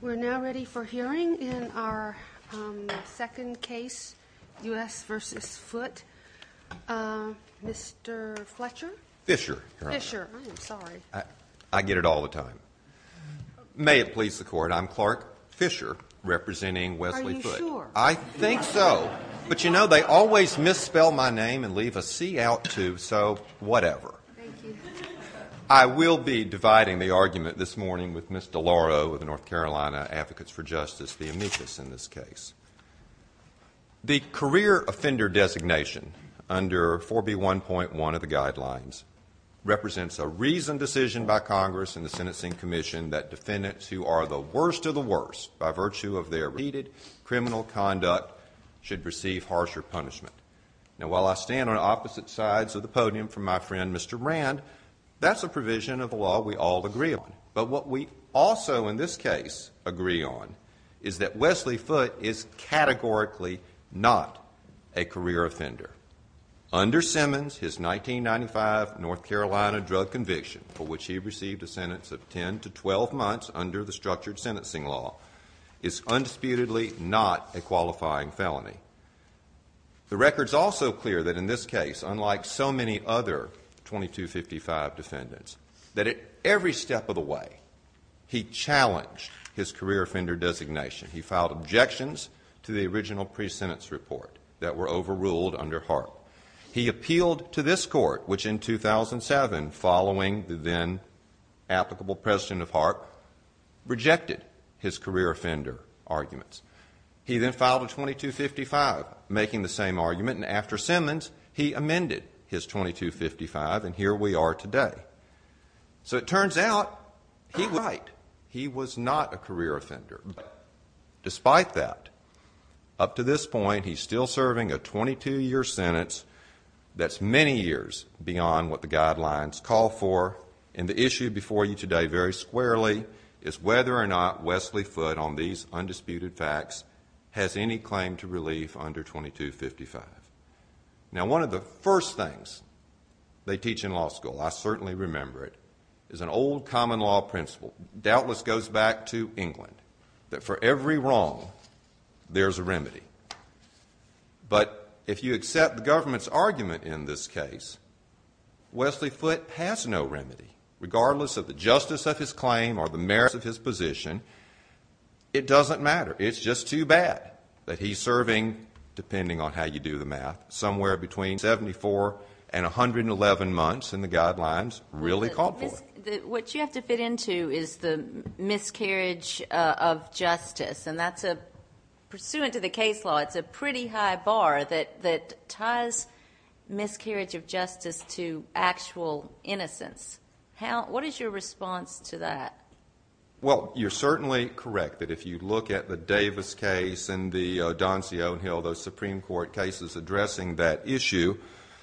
We're now ready for hearing in our second case, U.S. v. Foote, Mr. Fletcher? Fischer. Fischer. I'm sorry. I get it all the time. May it please the Court, I'm Clark Fischer representing Wesley Foote. Are you sure? I think so. But you know, they always misspell my name and leave a C out too, so whatever. Thank you. I will be dividing the argument this morning with Ms. DeLauro of the North Carolina Advocates for Justice, the amicus in this case. The career offender designation under 4B1.1 of the guidelines represents a reasoned decision by Congress and the Sentencing Commission that defendants who are the worst of the worst by virtue of their repeated criminal conduct should receive harsher punishment. Now while I stand on opposite sides of the podium from my friend Mr. Rand, that's a provision of a law we all agree on. But what we also in this case agree on is that Wesley Foote is categorically not a career offender. Under Simmons, his 1995 North Carolina drug conviction, for which he received a sentence of 10 to 12 months under the structured sentencing law, is undisputedly not a qualifying felony. The record's also clear that in this case, unlike so many other 2255 defendants, that at every step of the way, he challenged his career offender designation. He filed objections to the original pre-sentence report that were overruled under HAARP. He appealed to this court, which in 2007, following the then applicable president of HAARP, rejected his career offender arguments. He then filed a 2255, making the same argument, and after Simmons, he amended his 2255, and here we are today. So it turns out he was right. He was not a career offender. But despite that, up to this point, he's still serving a 22-year sentence that's many years beyond what the guidelines call for, and the issue before you today very squarely is whether or not Wesley Foote, on these undisputed facts, has any claim to relief under 2255. Now one of the first things they teach in law school, I certainly remember it, is an old common law principle, doubtless goes back to England, that for every wrong, there's a remedy. But if you accept the government's argument in this case, Wesley Foote has no remedy, regardless of the justice of his claim or the merits of his position, it doesn't matter. It's just too bad that he's serving, depending on how you do the math, somewhere between 74 and 111 months, and the guidelines really call for it. What you have to fit into is the miscarriage of justice, and that's a, pursuant to the What is your response to that? Well, you're certainly correct that if you look at the Davis case and the Doncio and Hill, those Supreme Court cases addressing that issue,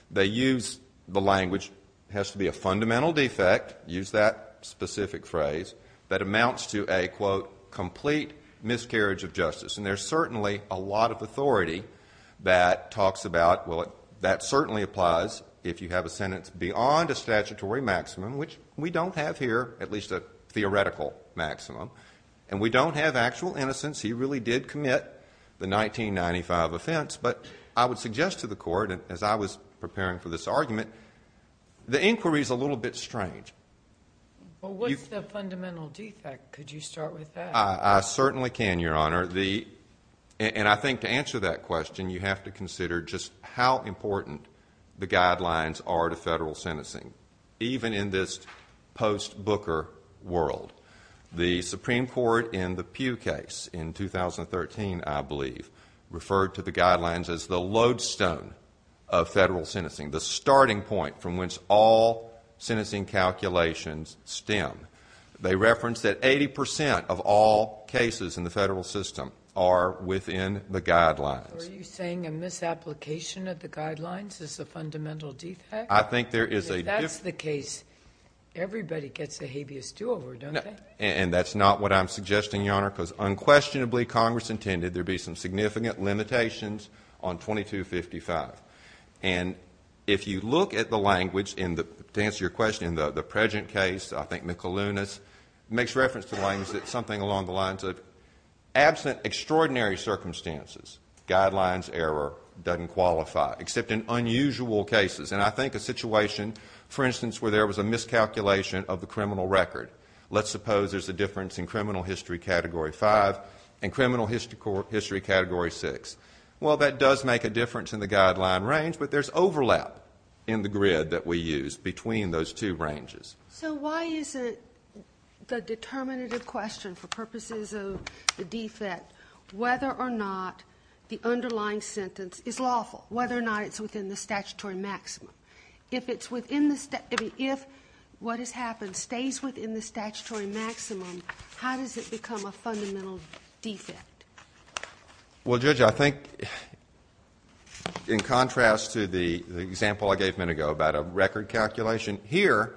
they use the language, has to be a fundamental defect, use that specific phrase, that amounts to a, quote, complete miscarriage of justice. And there's certainly a lot of authority that talks about, well, that certainly applies if you have a sentence beyond a statutory maximum, which we don't have here, at least a theoretical maximum. And we don't have actual innocence. He really did commit the 1995 offense. But I would suggest to the Court, as I was preparing for this argument, the inquiry's a little bit strange. Well, what's the fundamental defect? Could you start with that? I certainly can, Your Honor. The, and I think to answer that question, you have to consider just how important the guidelines are to federal sentencing, even in this post-Booker world. The Supreme Court in the Pew case in 2013, I believe, referred to the guidelines as the lodestone of federal sentencing, the starting point from which all sentencing calculations stem. They referenced that 80% of all cases in the federal system are within the guidelines. Are you saying a misapplication of the guidelines is a fundamental defect? I think there is a difference. If that's the case, everybody gets a habeas do-over, don't they? And that's not what I'm suggesting, Your Honor, because unquestionably, Congress intended there be some significant limitations on 2255. And if you look at the language in the, to answer your question, in the present case, I think McAloona's makes reference to the language that something along the lines of absent extraordinary circumstances, guidelines error doesn't qualify, except in unusual cases. And I think a situation, for instance, where there was a miscalculation of the criminal record. Let's suppose there's a difference in criminal history category five and criminal history category six. Well, that does make a difference in the guideline range, but there's overlap in the grid that we use between those two ranges. So why is it the determinative question for purposes of the defect, whether or not the underlying sentence is lawful, whether or not it's within the statutory maximum? If it's within the, if what has happened stays within the statutory maximum, how does it become a fundamental defect? Well, Judge, I think in contrast to the example I gave a minute ago about a record calculation, here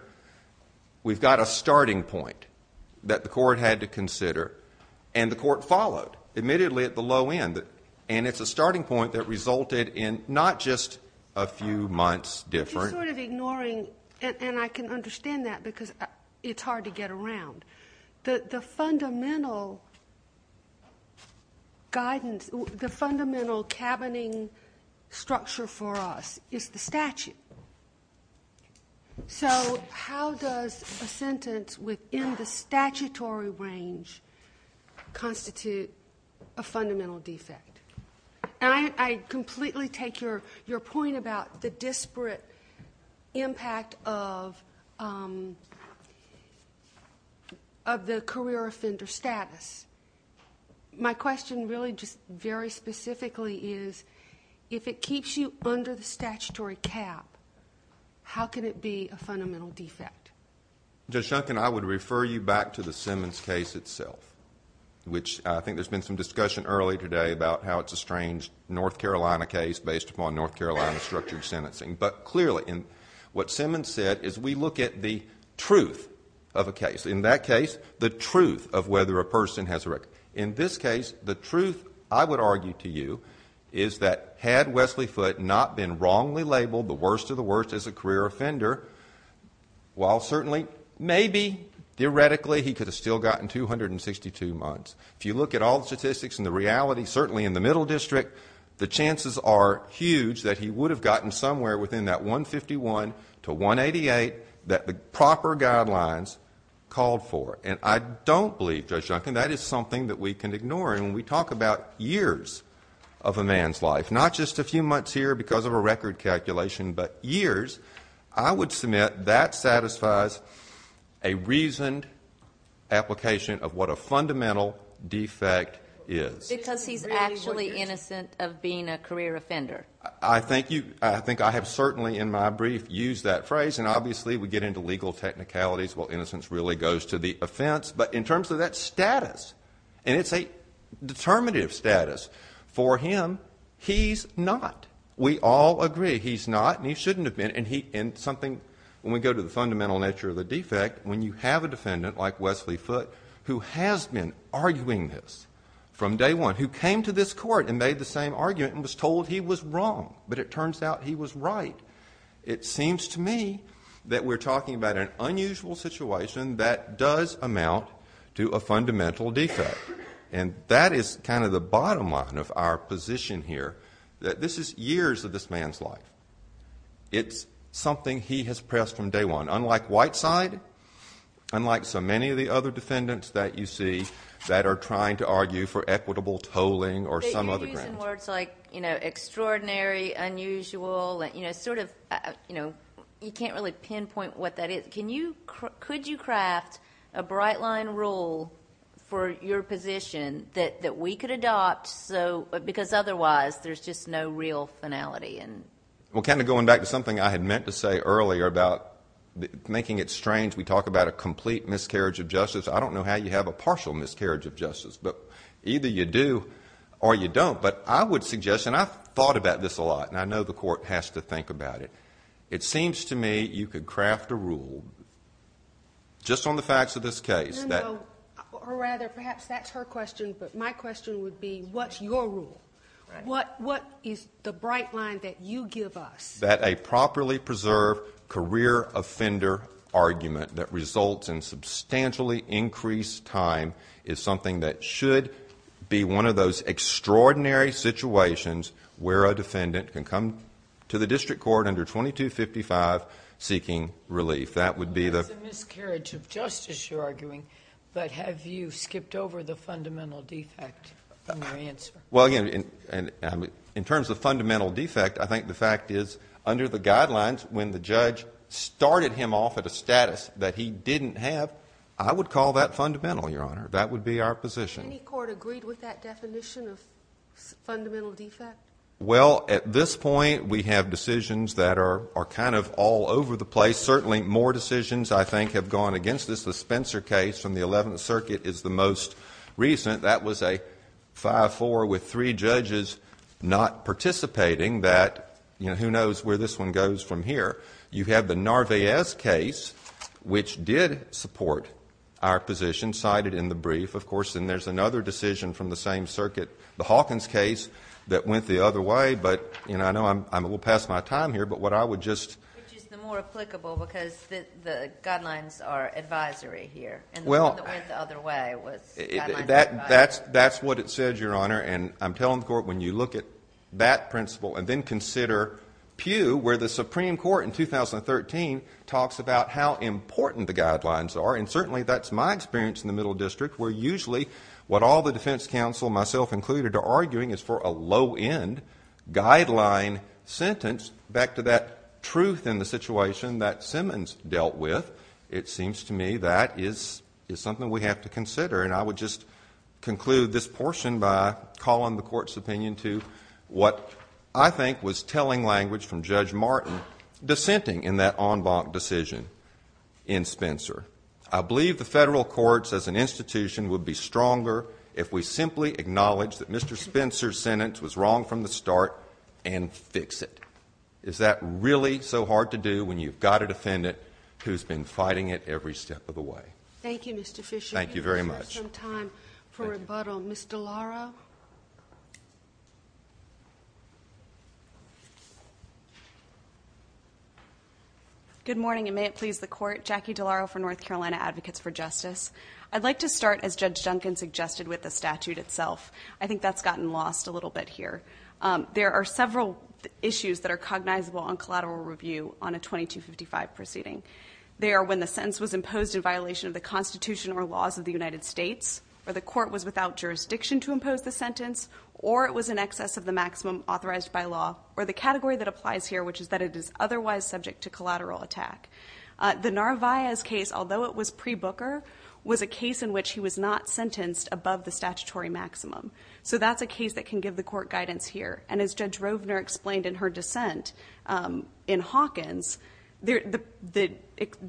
we've got a starting point that the court had to consider and the court followed, admittedly at the low end. And it's a starting point that resulted in not just a few months difference. I'm just sort of ignoring, and I can understand that because it's hard to get around. The fundamental guidance, the fundamental cabining structure for us is the statute. So how does a sentence within the statutory range constitute a fundamental defect? And I completely take your point about the disparate impact of the career offender status. My question really just very specifically is, if it keeps you under the statutory cap, how can it be a fundamental defect? Judge Shunkin, I would refer you back to the Simmons case itself, which I think there's been some discussion earlier today about how it's a strange North Carolina case based upon North Carolina structured sentencing. But clearly, what Simmons said is we look at the truth of a case. In that case, the truth of whether a person has a record. In this case, the truth, I would argue to you, is that had Wesley Foote not been wrongly labeled the worst of the worst as a career offender, while certainly maybe theoretically he could have still gotten 262 months. If you look at all the statistics and the reality, certainly in the Middle District, the chances are huge that he would have gotten somewhere within that 151 to 188 that the judge called for. And I don't believe, Judge Shunkin, that is something that we can ignore. And when we talk about years of a man's life, not just a few months here because of a record calculation, but years, I would submit that satisfies a reasoned application of what a fundamental defect is. Because he's actually innocent of being a career offender. I think you – I think I have certainly in my brief used that phrase. And obviously, we get into legal technicalities. Well, innocence really goes to the offense. But in terms of that status, and it's a determinative status, for him, he's not. We all agree he's not and he shouldn't have been. And he – and something – when we go to the fundamental nature of the defect, when you have a defendant like Wesley Foote, who has been arguing this from day one, who came to this court and made the same argument and was told he was wrong, but it turns out he was right. It seems to me that we're talking about an unusual situation that does amount to a fundamental defect. And that is kind of the bottom line of our position here, that this is years of this man's life. It's something he has pressed from day one, unlike Whiteside, unlike so many of the other defendants that you see that are trying to argue for equitable tolling or some other grounds. And words like, you know, extraordinary, unusual, you know, sort of, you know, you can't really pinpoint what that is. Can you – could you craft a bright-line rule for your position that we could adopt because otherwise there's just no real finality? Well, kind of going back to something I had meant to say earlier about making it strange, we talk about a complete miscarriage of justice. I don't know how you have a partial miscarriage of justice. But either you do or you don't. But I would suggest, and I've thought about this a lot, and I know the court has to think about it. It seems to me you could craft a rule just on the facts of this case. No, no. Or rather, perhaps that's her question, but my question would be, what's your rule? What is the bright line that you give us? That a properly preserved career offender argument that results in substantially increased time is something that should be one of those extraordinary situations where a defendant can come to the district court under 2255 seeking relief. That would be the – It's a miscarriage of justice you're arguing, but have you skipped over the fundamental defect from your answer? Well, again, in terms of fundamental defect, I think the fact is under the guidelines when the judge started him off at a status that he didn't have, I would call that fundamental, Your Honor. That would be our position. Any court agreed with that definition of fundamental defect? Well, at this point, we have decisions that are kind of all over the place. Certainly more decisions, I think, have gone against this. The Spencer case from the Eleventh Circuit is the most recent. That was a 5-4 with three judges not participating that, you know, who knows where this one goes from here. You have the Narvaez case, which did support our position cited in the brief. Of course, then there's another decision from the same circuit, the Hawkins case, that went the other way. But, you know, I know I'm a little past my time here, but what I would just – Which is the more applicable because the guidelines are advisory here. And the one that went the other way was guidelines that were advisory. That's what it said, Your Honor. And I'm telling the Court when you look at that principle and then consider where the Supreme Court in 2013 talks about how important the guidelines are. And certainly that's my experience in the Middle District where usually what all the defense counsel, myself included, are arguing is for a low-end guideline sentence. Back to that truth in the situation that Simmons dealt with, it seems to me that is something we have to consider. And I would just conclude this portion by calling the Court's opinion to what I think was telling language from Judge Martin dissenting in that en banc decision in Spencer. I believe the federal courts as an institution would be stronger if we simply acknowledge that Mr. Spencer's sentence was wrong from the start and fix it. Is that really so hard to do when you've got a defendant who's been fighting it every step of the way? Thank you, Mr. Fisher. Thank you very much. We have some time for rebuttal. Ms. DeLauro? Good morning, and may it please the Court. Jackie DeLauro for North Carolina Advocates for Justice. I'd like to start, as Judge Duncan suggested, with the statute itself. I think that's gotten lost a little bit here. There are several issues that are cognizable on collateral review on a 2255 proceeding. They are when the sentence was imposed in violation of the Constitution or laws of the United States, or the court was without jurisdiction to impose the sentence, or it was in excess of the maximum authorized by law, or the category that applies here, which is that it is otherwise subject to collateral attack. The Narvaez case, although it was pre-Booker, was a case in which he was not sentenced above the statutory maximum. So that's a case that can give the court guidance here. And as Judge Rovner explained in her dissent in Hawkins, the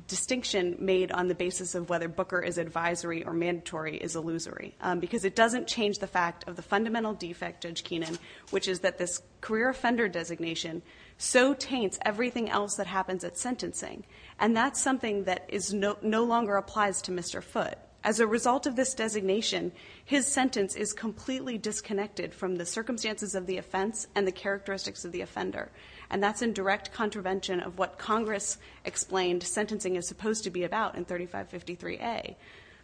distinction made on the basis of whether Booker is advisory or mandatory is illusory, because it doesn't change the fact of the fundamental defect, Judge Keenan, which is that this career offender designation so taints everything else that happens at sentencing. And that's something that no longer applies to Mr. Foote. As a result of this designation, his sentence is completely disconnected from the circumstances of the offense and the characteristics of the offender. And that's in direct contravention of what Congress explained sentencing is supposed to be about in 3553A.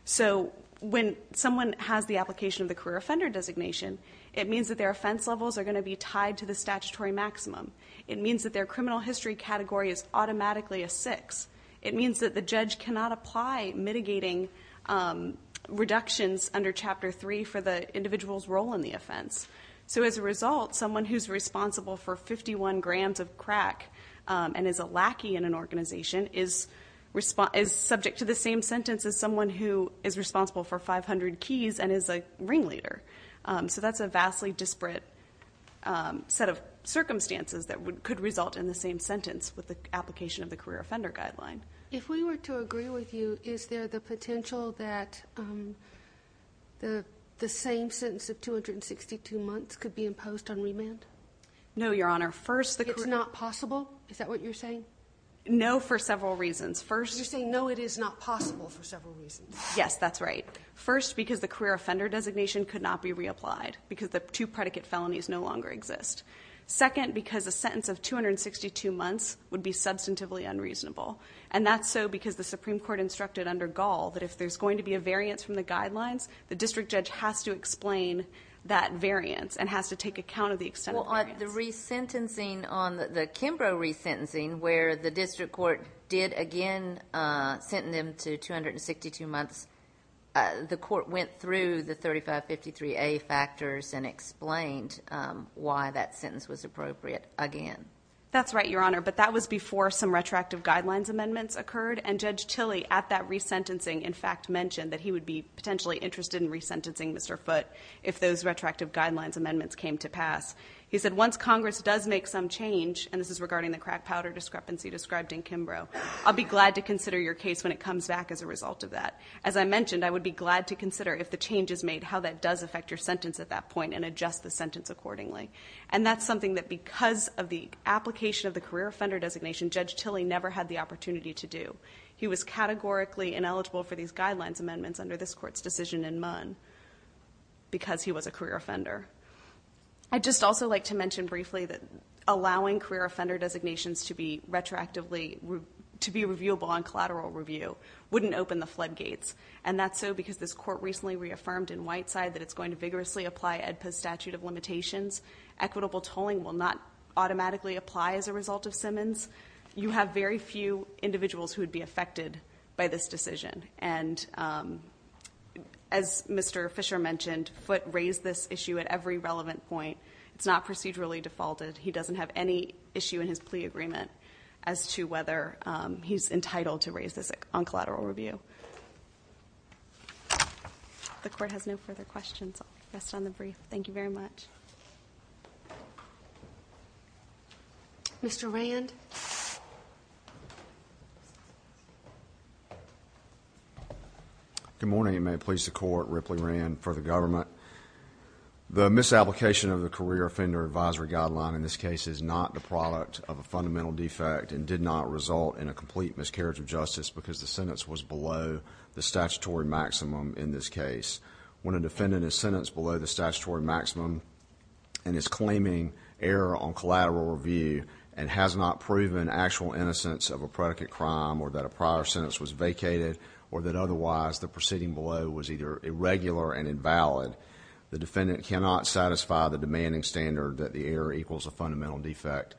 So when someone has the application of the career offender designation, it means that their offense levels are going to be tied to the statutory maximum. It means that their criminal history category is automatically a 6. It means that the judge cannot apply mitigating reductions under Chapter 3 for the individual's role in the offense. So as a result, someone who's responsible for 51 grams of crack and is a lackey in an organization is subject to the same sentence as someone who is responsible for 500 keys and is a ringleader. So that's a vastly disparate set of circumstances that could result in the same sentence with the application of the career offender guideline. If we were to agree with you, is there the potential that the same sentence of 262 months could be imposed on remand? No, Your Honor. It's not possible? Is that what you're saying? No, for several reasons. You're saying no, it is not possible for several reasons. Yes, that's right. First, because the career offender designation could not be reapplied because the two predicate felonies no longer exist. Second, because a sentence of 262 months would be substantively unreasonable. And that's so because the Supreme Court instructed under Gall that if there's going to be a variance from the guidelines, the district judge has to explain that variance and has to take account of the extent of the variance. Well, on the re-sentencing on the Kimbrough re-sentencing where the district court did again sentence them to 262 months, the court went through the 3553A factors and explained why that sentence was appropriate again. That's right, Your Honor. But that was before some retroactive guidelines amendments occurred, and Judge Tilley at that re-sentencing in fact mentioned that he would be potentially interested in re-sentencing Mr. Foote if those retroactive guidelines amendments came to pass. He said, once Congress does make some change, and this is regarding the crack powder discrepancy described in Kimbrough, I'll be glad to consider your case when it comes back as a result of that. As I mentioned, I would be glad to consider if the change is made how that does affect your sentence at that point and adjust the sentence accordingly. And that's something that because of the application of the career offender designation, Judge Tilley never had the opportunity to do. He was categorically ineligible for these guidelines amendments under this Court's decision in Munn because he was a career offender. I'd just also like to mention briefly that allowing career offender designations to be reviewable on collateral review wouldn't open the floodgates, and that's so because this Court recently reaffirmed in Whiteside that it's going to vigorously apply AEDPA's statute of limitations. Equitable tolling will not automatically apply as a result of Simmons. You have very few individuals who would be affected by this decision. And as Mr. Fisher mentioned, Foote raised this issue at every relevant point. It's not procedurally defaulted. He doesn't have any issue in his plea agreement as to whether he's entitled to raise this on collateral review. So the Court has no further questions. I'll rest on the brief. Thank you very much. Mr. Rand. Good morning, and may it please the Court. Ripley Rand for the government. The misapplication of the career offender advisory guideline in this case is not the product of a fundamental defect and did not result in a complete miscarriage of justice because the sentence was below the statutory maximum in this case. When a defendant is sentenced below the statutory maximum and is claiming error on collateral review and has not proven actual innocence of a predicate crime or that a prior sentence was vacated or that otherwise the proceeding below was either irregular and invalid, the defendant cannot satisfy the demanding standard that the error equals a fundamental defect,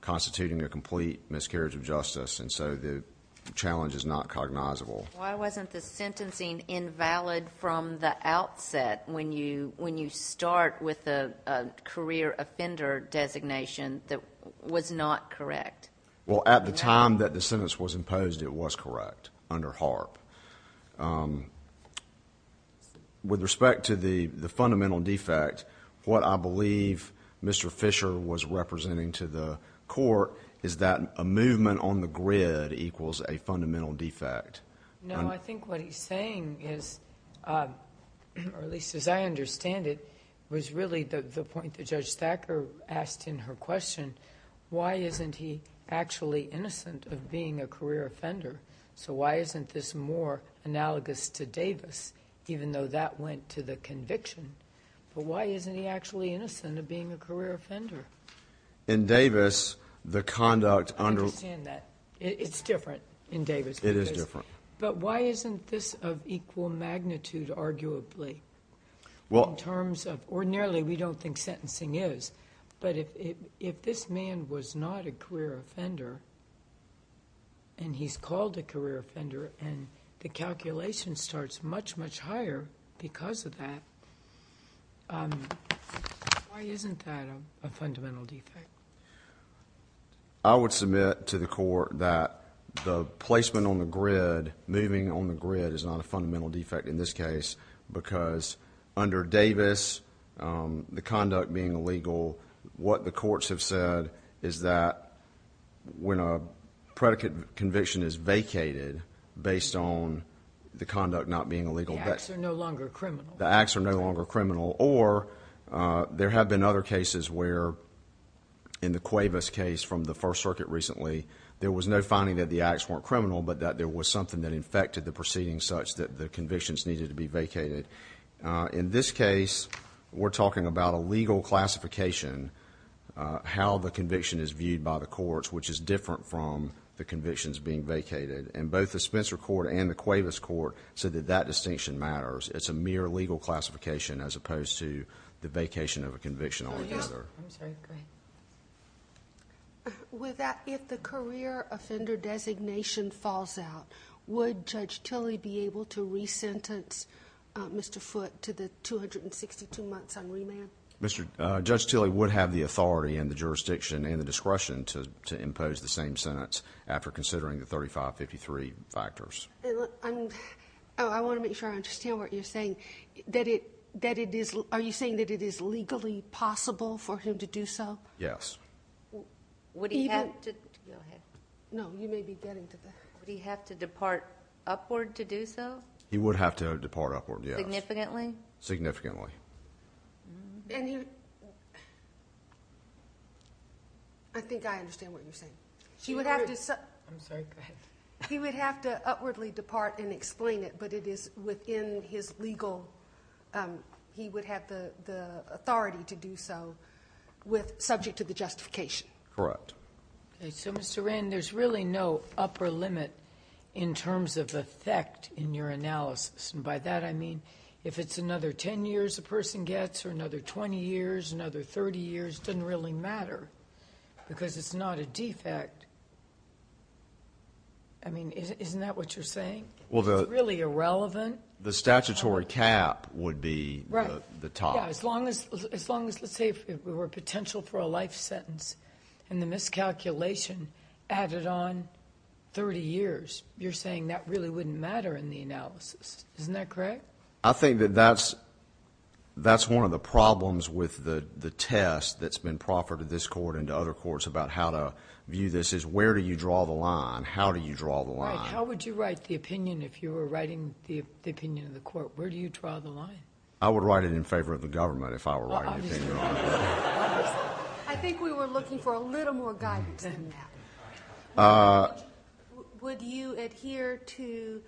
constituting a complete miscarriage of justice. And so the challenge is not cognizable. Why wasn't the sentencing invalid from the outset when you start with a career offender designation that was not correct? Well, at the time that the sentence was imposed, it was correct under HAARP. With respect to the fundamental defect, what I believe Mr. Fisher was representing to the Court is that a movement on the grid equals a fundamental defect. No, I think what he's saying is, or at least as I understand it, was really the point that Judge Thacker asked in her question, why isn't he actually innocent of being a career offender? So why isn't this more analogous to Davis, even though that went to the conviction? But why isn't he actually innocent of being a career offender? In Davis, the conduct under— I understand that. It's different in Davis. It is different. But why isn't this of equal magnitude, arguably, in terms of— ordinarily we don't think sentencing is, but if this man was not a career offender and he's called a career offender and the calculation starts much, much higher because of that, why isn't that a fundamental defect? I would submit to the Court that the placement on the grid, moving on the grid is not a fundamental defect in this case because under Davis, the conduct being illegal, what the courts have said is that when a predicate conviction is vacated based on the conduct not being illegal— The acts are no longer criminal. The acts are no longer criminal or there have been other cases where, in the Cuevas case from the First Circuit recently, there was no finding that the acts weren't criminal but that there was something that infected the proceedings such that the convictions needed to be vacated. In this case, we're talking about a legal classification, how the conviction is viewed by the courts, which is different from the convictions being vacated. And both the Spencer Court and the Cuevas Court said that that distinction matters. It's a mere legal classification as opposed to the vacation of a conviction altogether. With that, if the career offender designation falls out, would Judge Tilley be able to re-sentence Mr. Foote to the 262 months on remand? Judge Tilley would have the authority and the jurisdiction and the discretion to impose the same sentence after considering the 3553 factors. I want to make sure I understand what you're saying. Are you saying that it is legally possible for him to do so? Yes. Would he have to—go ahead. No, you may be getting to that. Would he have to depart upward to do so? He would have to depart upward, yes. Significantly? Significantly. I think I understand what you're saying. I'm sorry, go ahead. He would have to upwardly depart and explain it, but it is within his legal— he would have the authority to do so with—subject to the justification. Correct. Okay, so Mr. Wren, there's really no upper limit in terms of effect in your analysis. And by that I mean if it's another 10 years a person gets or another 20 years, another 30 years, it doesn't really matter because it's not a defect. I mean, isn't that what you're saying? Well, the— It's really irrelevant. The statutory cap would be the top. Yeah, as long as—let's say if it were potential for a life sentence and the miscalculation added on 30 years, you're saying that really wouldn't matter in the analysis. Isn't that correct? I think that that's one of the problems with the test that's been proffered to this court and to other courts about how to view this is where do you draw the line? How do you draw the line? Right. How would you write the opinion if you were writing the opinion of the court? Where do you draw the line? I would write it in favor of the government if I were writing the opinion. Well, obviously. I think we were looking for a little more guidance than that. Would you adhere to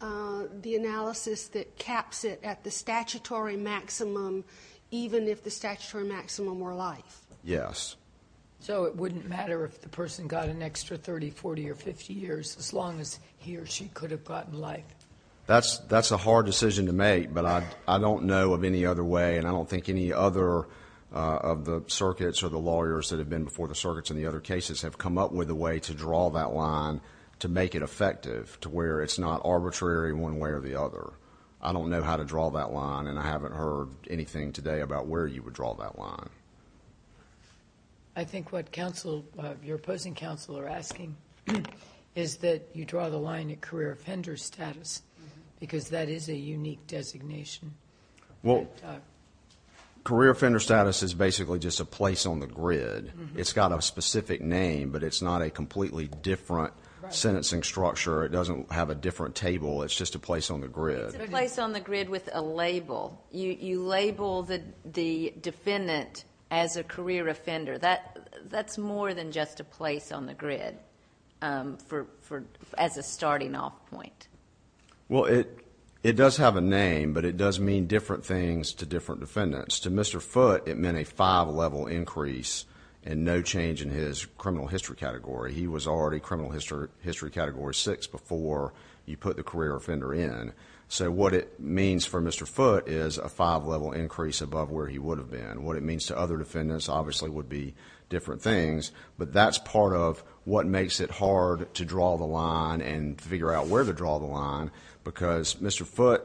the analysis that caps it at the statutory maximum even if the statutory maximum were life? Yes. So it wouldn't matter if the person got an extra 30, 40, or 50 years as long as he or she could have gotten life? That's a hard decision to make, but I don't know of any other way, and I don't think any other of the circuits or the lawyers that have been before the circuits in the other cases have come up with a way to draw that line to make it effective to where it's not arbitrary one way or the other. I don't know how to draw that line, and I haven't heard anything today about where you would draw that line. I think what your opposing counsel are asking is that you draw the line at career offender status because that is a unique designation. Career offender status is basically just a place on the grid. It's got a specific name, but it's not a completely different sentencing structure. It doesn't have a different table. It's just a place on the grid. It's a place on the grid with a label. You label the defendant as a career offender. That's more than just a place on the grid as a starting off point. Well, it does have a name, but it does mean different things to different defendants. To Mr. Foote, it meant a five-level increase and no change in his criminal history category. He was already criminal history category six before you put the career offender in. What it means for Mr. Foote is a five-level increase above where he would have been. What it means to other defendants obviously would be different things, but that's part of what makes it hard to draw the line and figure out where to draw the line because Mr. Foote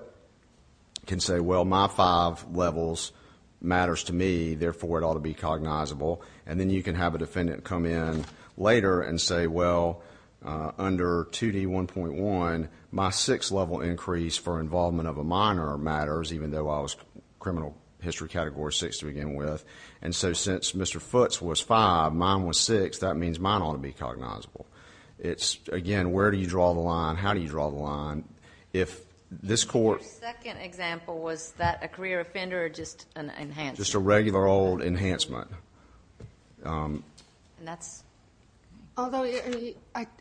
can say, well, my five levels matters to me. Therefore, it ought to be cognizable. Then you can have a defendant come in later and say, well, under 2D1.1, my six-level increase for involvement of a minor matters, even though I was criminal history category six to begin with. Since Mr. Foote's was five, mine was six. That means mine ought to be cognizable. It's, again, where do you draw the line? How do you draw the line? The second example, was that a career offender or just an enhancement?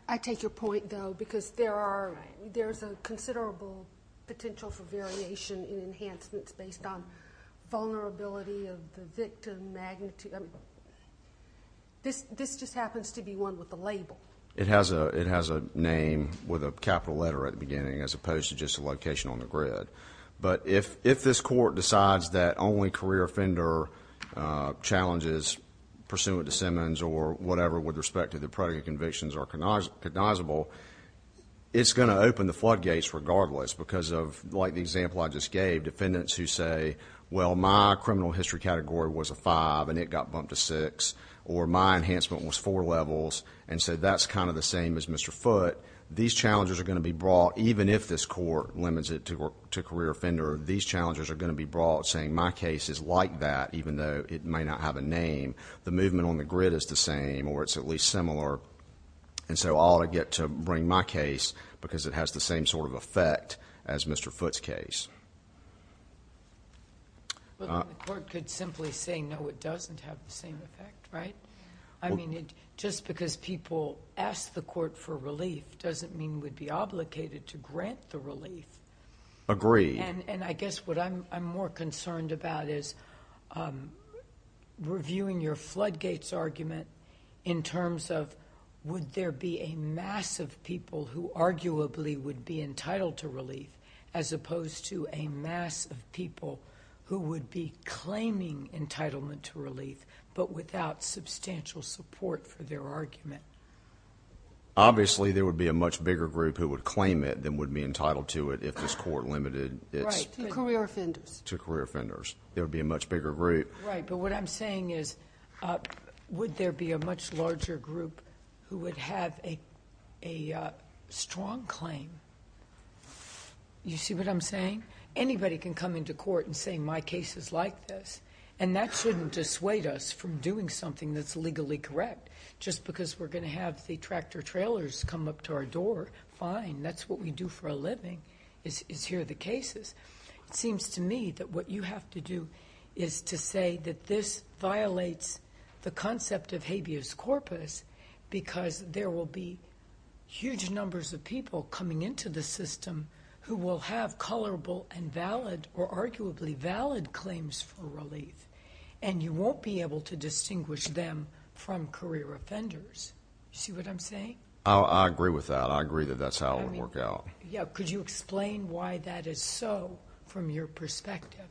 I take your point, though, because there's a considerable potential for variation in enhancements based on vulnerability of the victim magnitude. This just happens to be one with the label. It has a name with a capital letter at the beginning as opposed to just a location on the grid. If this court decides that only career offender challenges pursuant to Simmons or whatever with respect to the predicate convictions are cognizable, it's going to open the floodgates regardless because of, like the example I just gave, defendants who say, well, my criminal history category was a five and it got bumped to six, or my enhancement was four levels, and so that's kind of the same as Mr. Foote. These challenges are going to be brought even if this court limits it to career offender. These challenges are going to be brought saying my case is like that even though it may not have a name. The movement on the grid is the same or it's at least similar, and so I'll get to bring my case because it has the same sort of effect as Mr. Foote's case. The court could simply say, no, it doesn't have the same effect, right? I mean, just because people ask the court for relief doesn't mean we'd be obligated to grant the relief. Agreed. And I guess what I'm more concerned about is reviewing your floodgates argument in terms of would there be a mass of people who arguably would be entitled to relief as opposed to a mass of people who would be claiming entitlement to relief but without substantial support for their argument. Obviously, there would be a much bigger group who would claim it than would be entitled to it if this court limited it. Right, to career offenders. To career offenders. There would be a much bigger group. Right, but what I'm saying is would there be a much larger group who would have a strong claim? You see what I'm saying? Anybody can come into court and say my case is like this, and that shouldn't dissuade us from doing something that's legally correct. Just because we're going to have the tractor-trailers come up to our door, fine. That's what we do for a living is hear the cases. It seems to me that what you have to do is to say that this violates the concept of habeas corpus because there will be huge numbers of people coming into the system who will have colorable and valid or arguably valid claims for relief, and you won't be able to distinguish them from career offenders. You see what I'm saying? I agree with that. I agree that that's how it would work out. Could you explain why that is so from your perspective?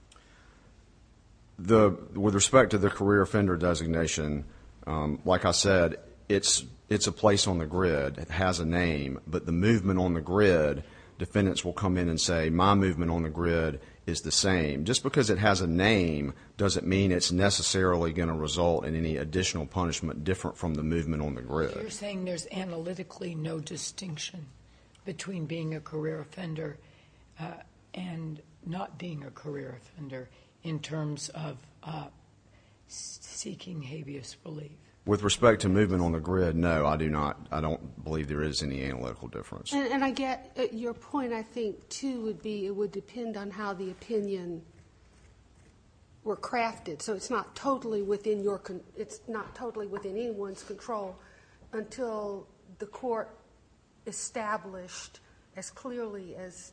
With respect to the career offender designation, like I said, it's a place on the grid. It has a name. But the movement on the grid, defendants will come in and say my movement on the grid is the same. Just because it has a name doesn't mean it's necessarily going to result in any additional punishment different from the movement on the grid. You're saying there's analytically no distinction between being a career offender and not being a career offender in terms of seeking habeas relief. With respect to movement on the grid, no, I don't believe there is any analytical difference. And I get your point. I think, too, it would depend on how the opinion were crafted. So it's not totally within anyone's control until the court established as clearly as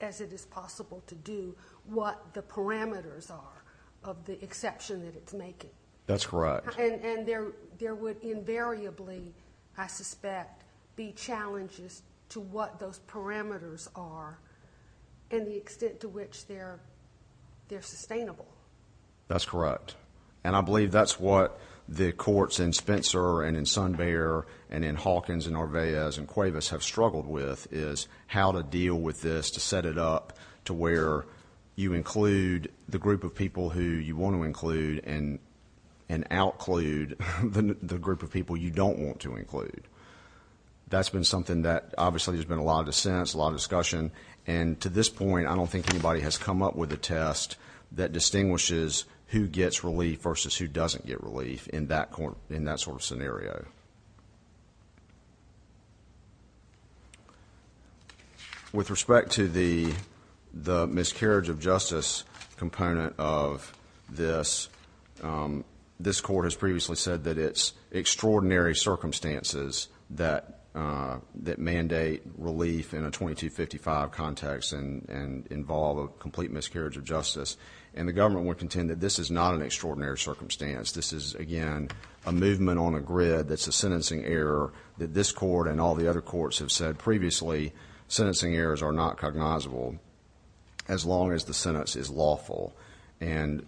it is possible to do what the parameters are of the exception that it's making. That's correct. And there would invariably, I suspect, be challenges to what those parameters are and the extent to which they're sustainable. That's correct. And I believe that's what the courts in Spencer and in SunBear and in Hawkins and Arveaz and Cuevas have struggled with is how to deal with this to set it up to where you include the group of people who you want to include and outclude the group of people you don't want to include. That's been something that obviously there's been a lot of dissent, a lot of discussion. And to this point, I don't think anybody has come up with a test that distinguishes who gets relief versus who doesn't get relief in that sort of scenario. With respect to the miscarriage of justice component of this, this court has previously said that it's extraordinary circumstances that mandate relief in a 2255 context and involve a complete miscarriage of justice. And the government would contend that this is not an extraordinary circumstance. This is, again, a movement on a grid that's a sentencing error that this court and all the other courts have said previously sentencing errors are not cognizable as long as the sentence is lawful. And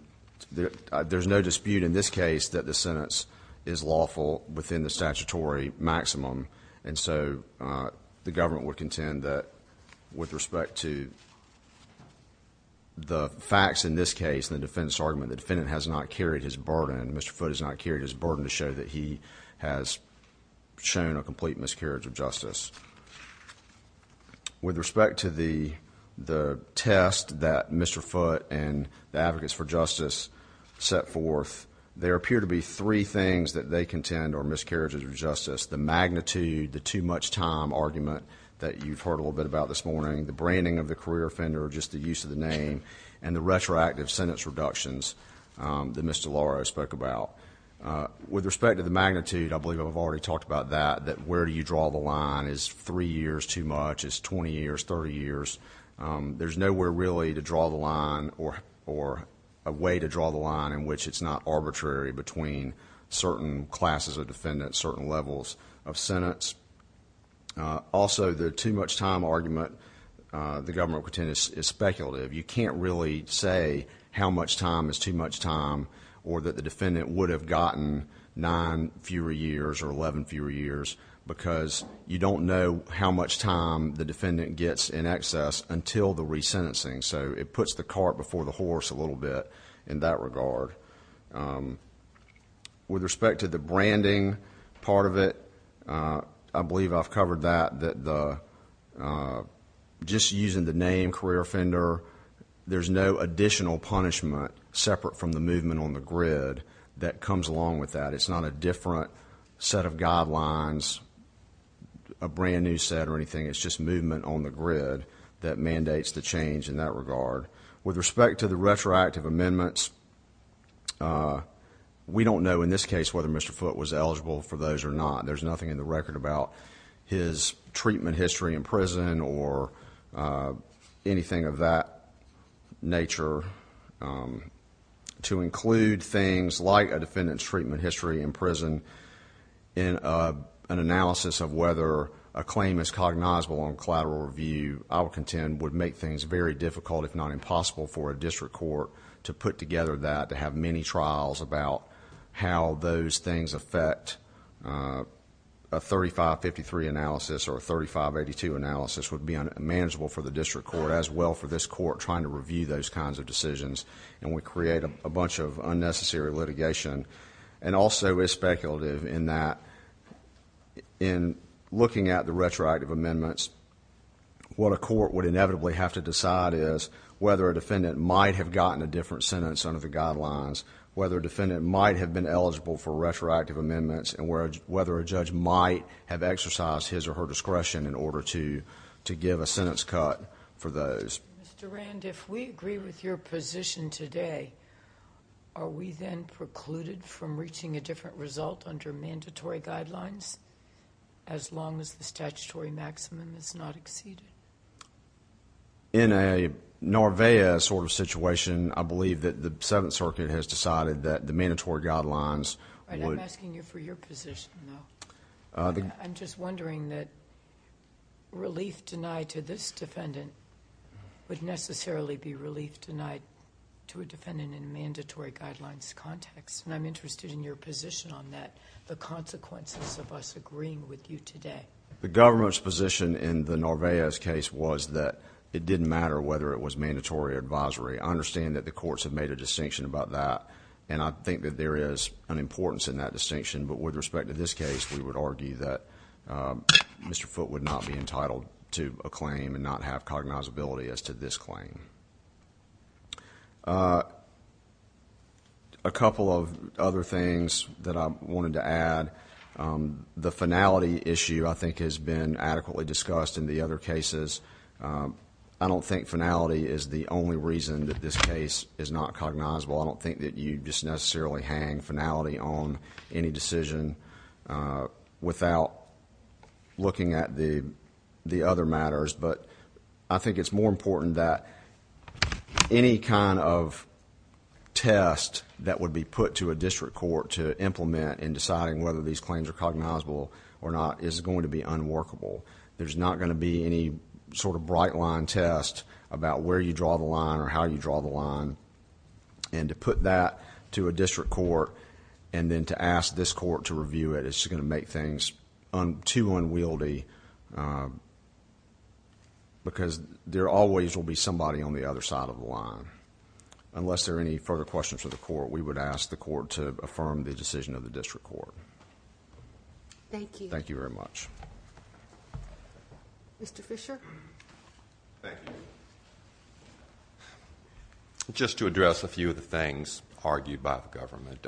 there's no dispute in this case that the sentence is lawful within the statutory maximum. And so the government would contend that with respect to the facts in this case, the defendant's argument, the defendant has not carried his burden. Mr. Foote has not carried his burden to show that he has shown a complete miscarriage of justice. With respect to the test that Mr. Foote and the Advocates for Justice set forth, there appear to be three things that they contend are miscarriages of justice. The magnitude, the too much time argument that you've heard a little bit about this morning, the branding of the career offender, just the use of the name, and the retroactive sentence reductions that Ms. DeLauro spoke about. With respect to the magnitude, I believe I've already talked about that, that where do you draw the line is three years too much, it's 20 years, 30 years. There's nowhere really to draw the line or a way to draw the line in which it's not arbitrary between certain classes of defendants, certain levels of sentence. Also, the too much time argument, the government would contend, is speculative. You can't really say how much time is too much time or that the defendant would have gotten nine fewer years or 11 fewer years because you don't know how much time the defendant gets in excess until the resentencing. So it puts the cart before the horse a little bit in that regard. With respect to the branding part of it, I believe I've covered that, that just using the name career offender, there's no additional punishment separate from the movement on the grid that comes along with that. It's not a different set of guidelines, a brand new set or anything. It's just movement on the grid that mandates the change in that regard. With respect to the retroactive amendments, we don't know in this case whether Mr. Foote was eligible for those or not. There's nothing in the record about his treatment history in prison or anything of that nature. To include things like a defendant's treatment history in prison in an analysis of whether a claim is cognizable on collateral review, I would contend would make things very difficult, if not impossible, for a district court to put together that, to have many trials about how those things affect a 3553 analysis or a 3582 analysis would be unmanageable for the district court, as well for this court trying to review those kinds of decisions. We create a bunch of unnecessary litigation. Also, it's speculative in that, in looking at the retroactive amendments, what a court would inevitably have to decide is whether a defendant might have gotten a different sentence under the guidelines, whether a defendant might have been eligible for retroactive amendments, and whether a judge might have exercised his or her discretion in order to give a sentence cut for those. Mr. Rand, if we agree with your position today, are we then precluded from reaching a different result under mandatory guidelines, as long as the statutory maximum is not exceeded? In a Norvegia sort of situation, I believe that the Seventh Circuit has decided that the mandatory guidelines would... I'm asking you for your position, though. I'm just wondering that relief denied to this defendant would necessarily be relief denied to a defendant in a mandatory guidelines context, and I'm interested in your position on that, the consequences of us agreeing with you today. The government's position in the Norvegia's case was that it didn't matter whether it was mandatory or advisory. I understand that the courts have made a distinction about that, and I think that there is an importance in that distinction, but with respect to this case, we would argue that Mr. Foote would not be entitled to a claim and not have cognizability as to this claim. A couple of other things that I wanted to add. The finality issue, I think, has been adequately discussed in the other cases. I don't think finality is the only reason that this case is not cognizable. I don't think that you just necessarily hang finality on any decision without looking at the other matters, but I think it's more important that any kind of test that would be put to a district court to implement in deciding whether these claims are cognizable or not is going to be unworkable. There's not going to be any sort of bright-line test about where you draw the line or how you draw the line, and to put that to a district court and then to ask this court to review it is going to make things too unwieldy because there always will be somebody on the other side of the line. Unless there are any further questions for the court, we would ask the court to affirm the decision of the district court. Thank you. Thank you very much. Mr. Fisher? Thank you. Just to address a few of the things argued by the government,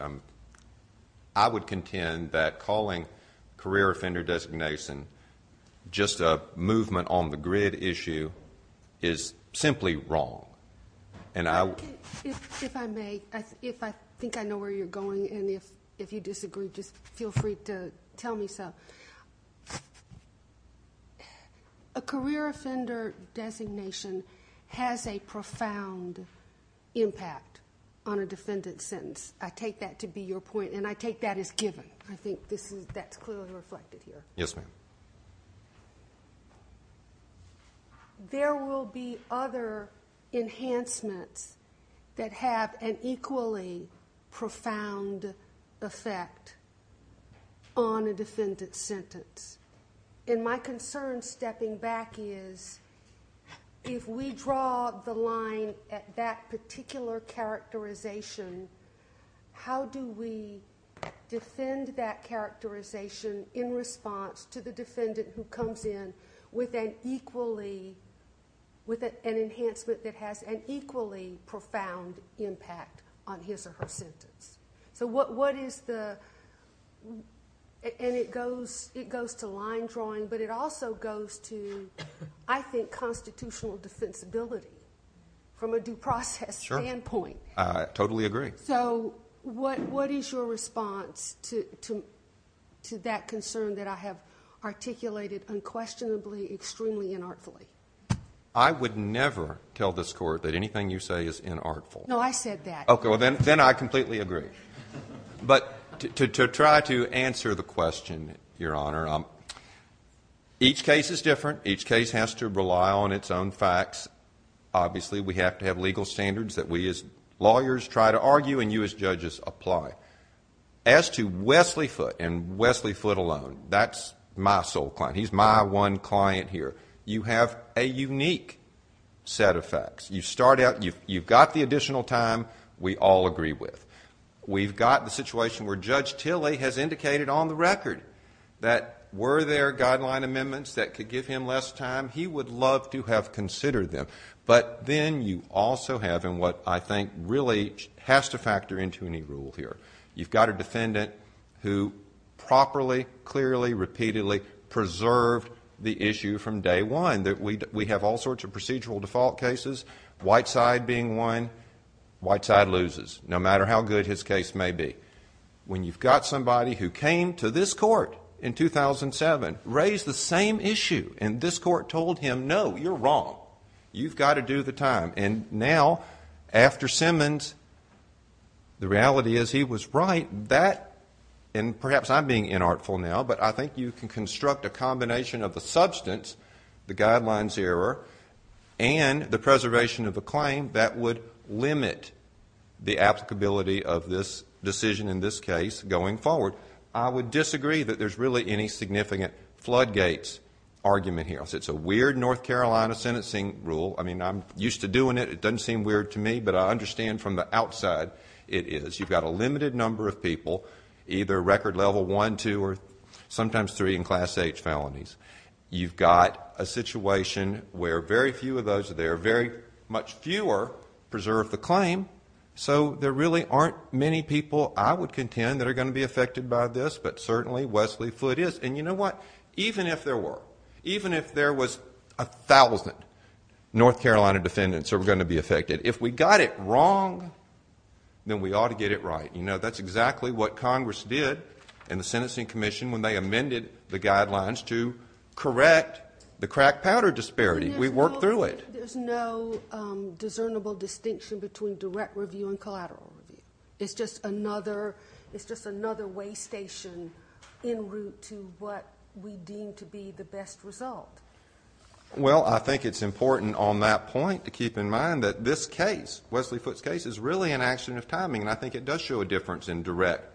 I would contend that calling career offender designation just a movement on the grid issue is simply wrong, and I would... If I may, if I think I know where you're going, and if you disagree, just feel free to tell me so. A career offender designation has a profound impact on a defendant's sentence. I take that to be your point, and I take that as given. I think that's clearly reflected here. Yes, ma'am. There will be other enhancements that have an equally profound effect on a defendant's sentence, and my concern, stepping back, is if we draw the line at that particular characterization, how do we defend that characterization in response to the defendant who comes in with an equally, with an enhancement that has an equally profound impact on his or her sentence? So what is the... And it goes to line drawing, but it also goes to, I think, constitutional defensibility from a due process standpoint. I totally agree. So what is your response to that concern that I have articulated unquestionably, extremely inartfully? I would never tell this Court that anything you say is inartful. No, I said that. Okay, well, then I completely agree. But to try to answer the question, Your Honor, each case is different. Each case has to rely on its own facts. Obviously, we have to have legal standards that we as lawyers try to argue and you as judges apply. As to Wesley Foote and Wesley Foote alone, that's my sole client. He's my one client here. You have a unique set of facts. You start out, you've got the additional time, we all agree with. We've got the situation where Judge Tilley has indicated on the record that were there guideline amendments that could give him less time, he would love to have considered them. But then you also have in what I think really has to factor into any rule here, you've got a defendant who properly, clearly, repeatedly preserved the issue from day one. We have all sorts of procedural default cases, white side being won, white side loses, no matter how good his case may be. When you've got somebody who came to this court in 2007, raised the same issue, and this court told him, no, you're wrong, you've got to do the time. And now, after Simmons, the reality is he was right. That, and perhaps I'm being inartful now, but I think you can construct a combination of the substance, the guidelines error, and the preservation of a claim that would limit the applicability of this decision in this case going forward. I would disagree that there's really any significant floodgates argument here. It's a weird North Carolina sentencing rule. I mean, I'm used to doing it. It doesn't seem weird to me, but I understand from the outside it is. You've got a limited number of people, either record level one, two, or sometimes three in Class H felonies. You've got a situation where very few of those are there. Very much fewer preserve the claim. So there really aren't many people, I would contend, that are going to be affected by this, but certainly Wesley Flood is. And you know what? Even if there were, even if there was 1,000 North Carolina defendants that were going to be affected, if we got it wrong, then we ought to get it right. You know, that's exactly what Congress did in the sentencing commission when they amended the guidelines to correct the crack powder disparity. We worked through it. There's no discernible distinction between direct review and collateral review. It's just another way station in route to what we deem to be the best result. Well, I think it's important on that point to keep in mind that this case, Wesley Flood's case, is really an action of timing, and I think it does show a difference in direct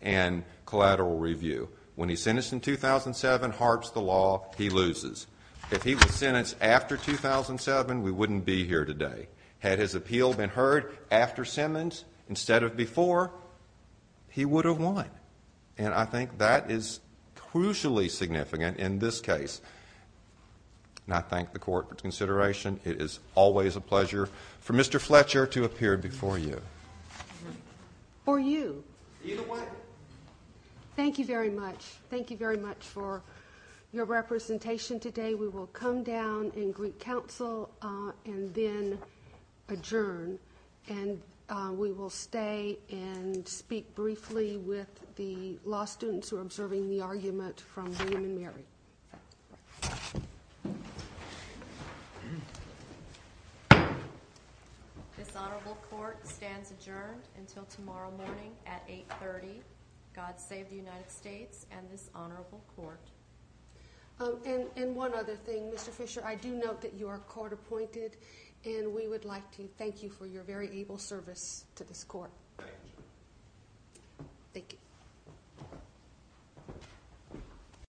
and collateral review. When he's sentenced in 2007, harps the law, he loses. If he was sentenced after 2007, we wouldn't be here today. Had his appeal been heard after Simmons instead of before, he would have won. And I think that is crucially significant in this case. And I thank the Court for its consideration. It is always a pleasure for Mr. Fletcher to appear before you. For you. Either way. Thank you very much. Thank you very much for your representation today. We will come down and greet counsel and then adjourn. And we will stay and speak briefly with the law students who are observing the argument from William and Mary. This honorable court stands adjourned until tomorrow morning at 8.30. God save the United States and this honorable court. And one other thing, Mr. Fisher, I do note that you are court appointed, and we would like to thank you for your very able service to this court. Thank you.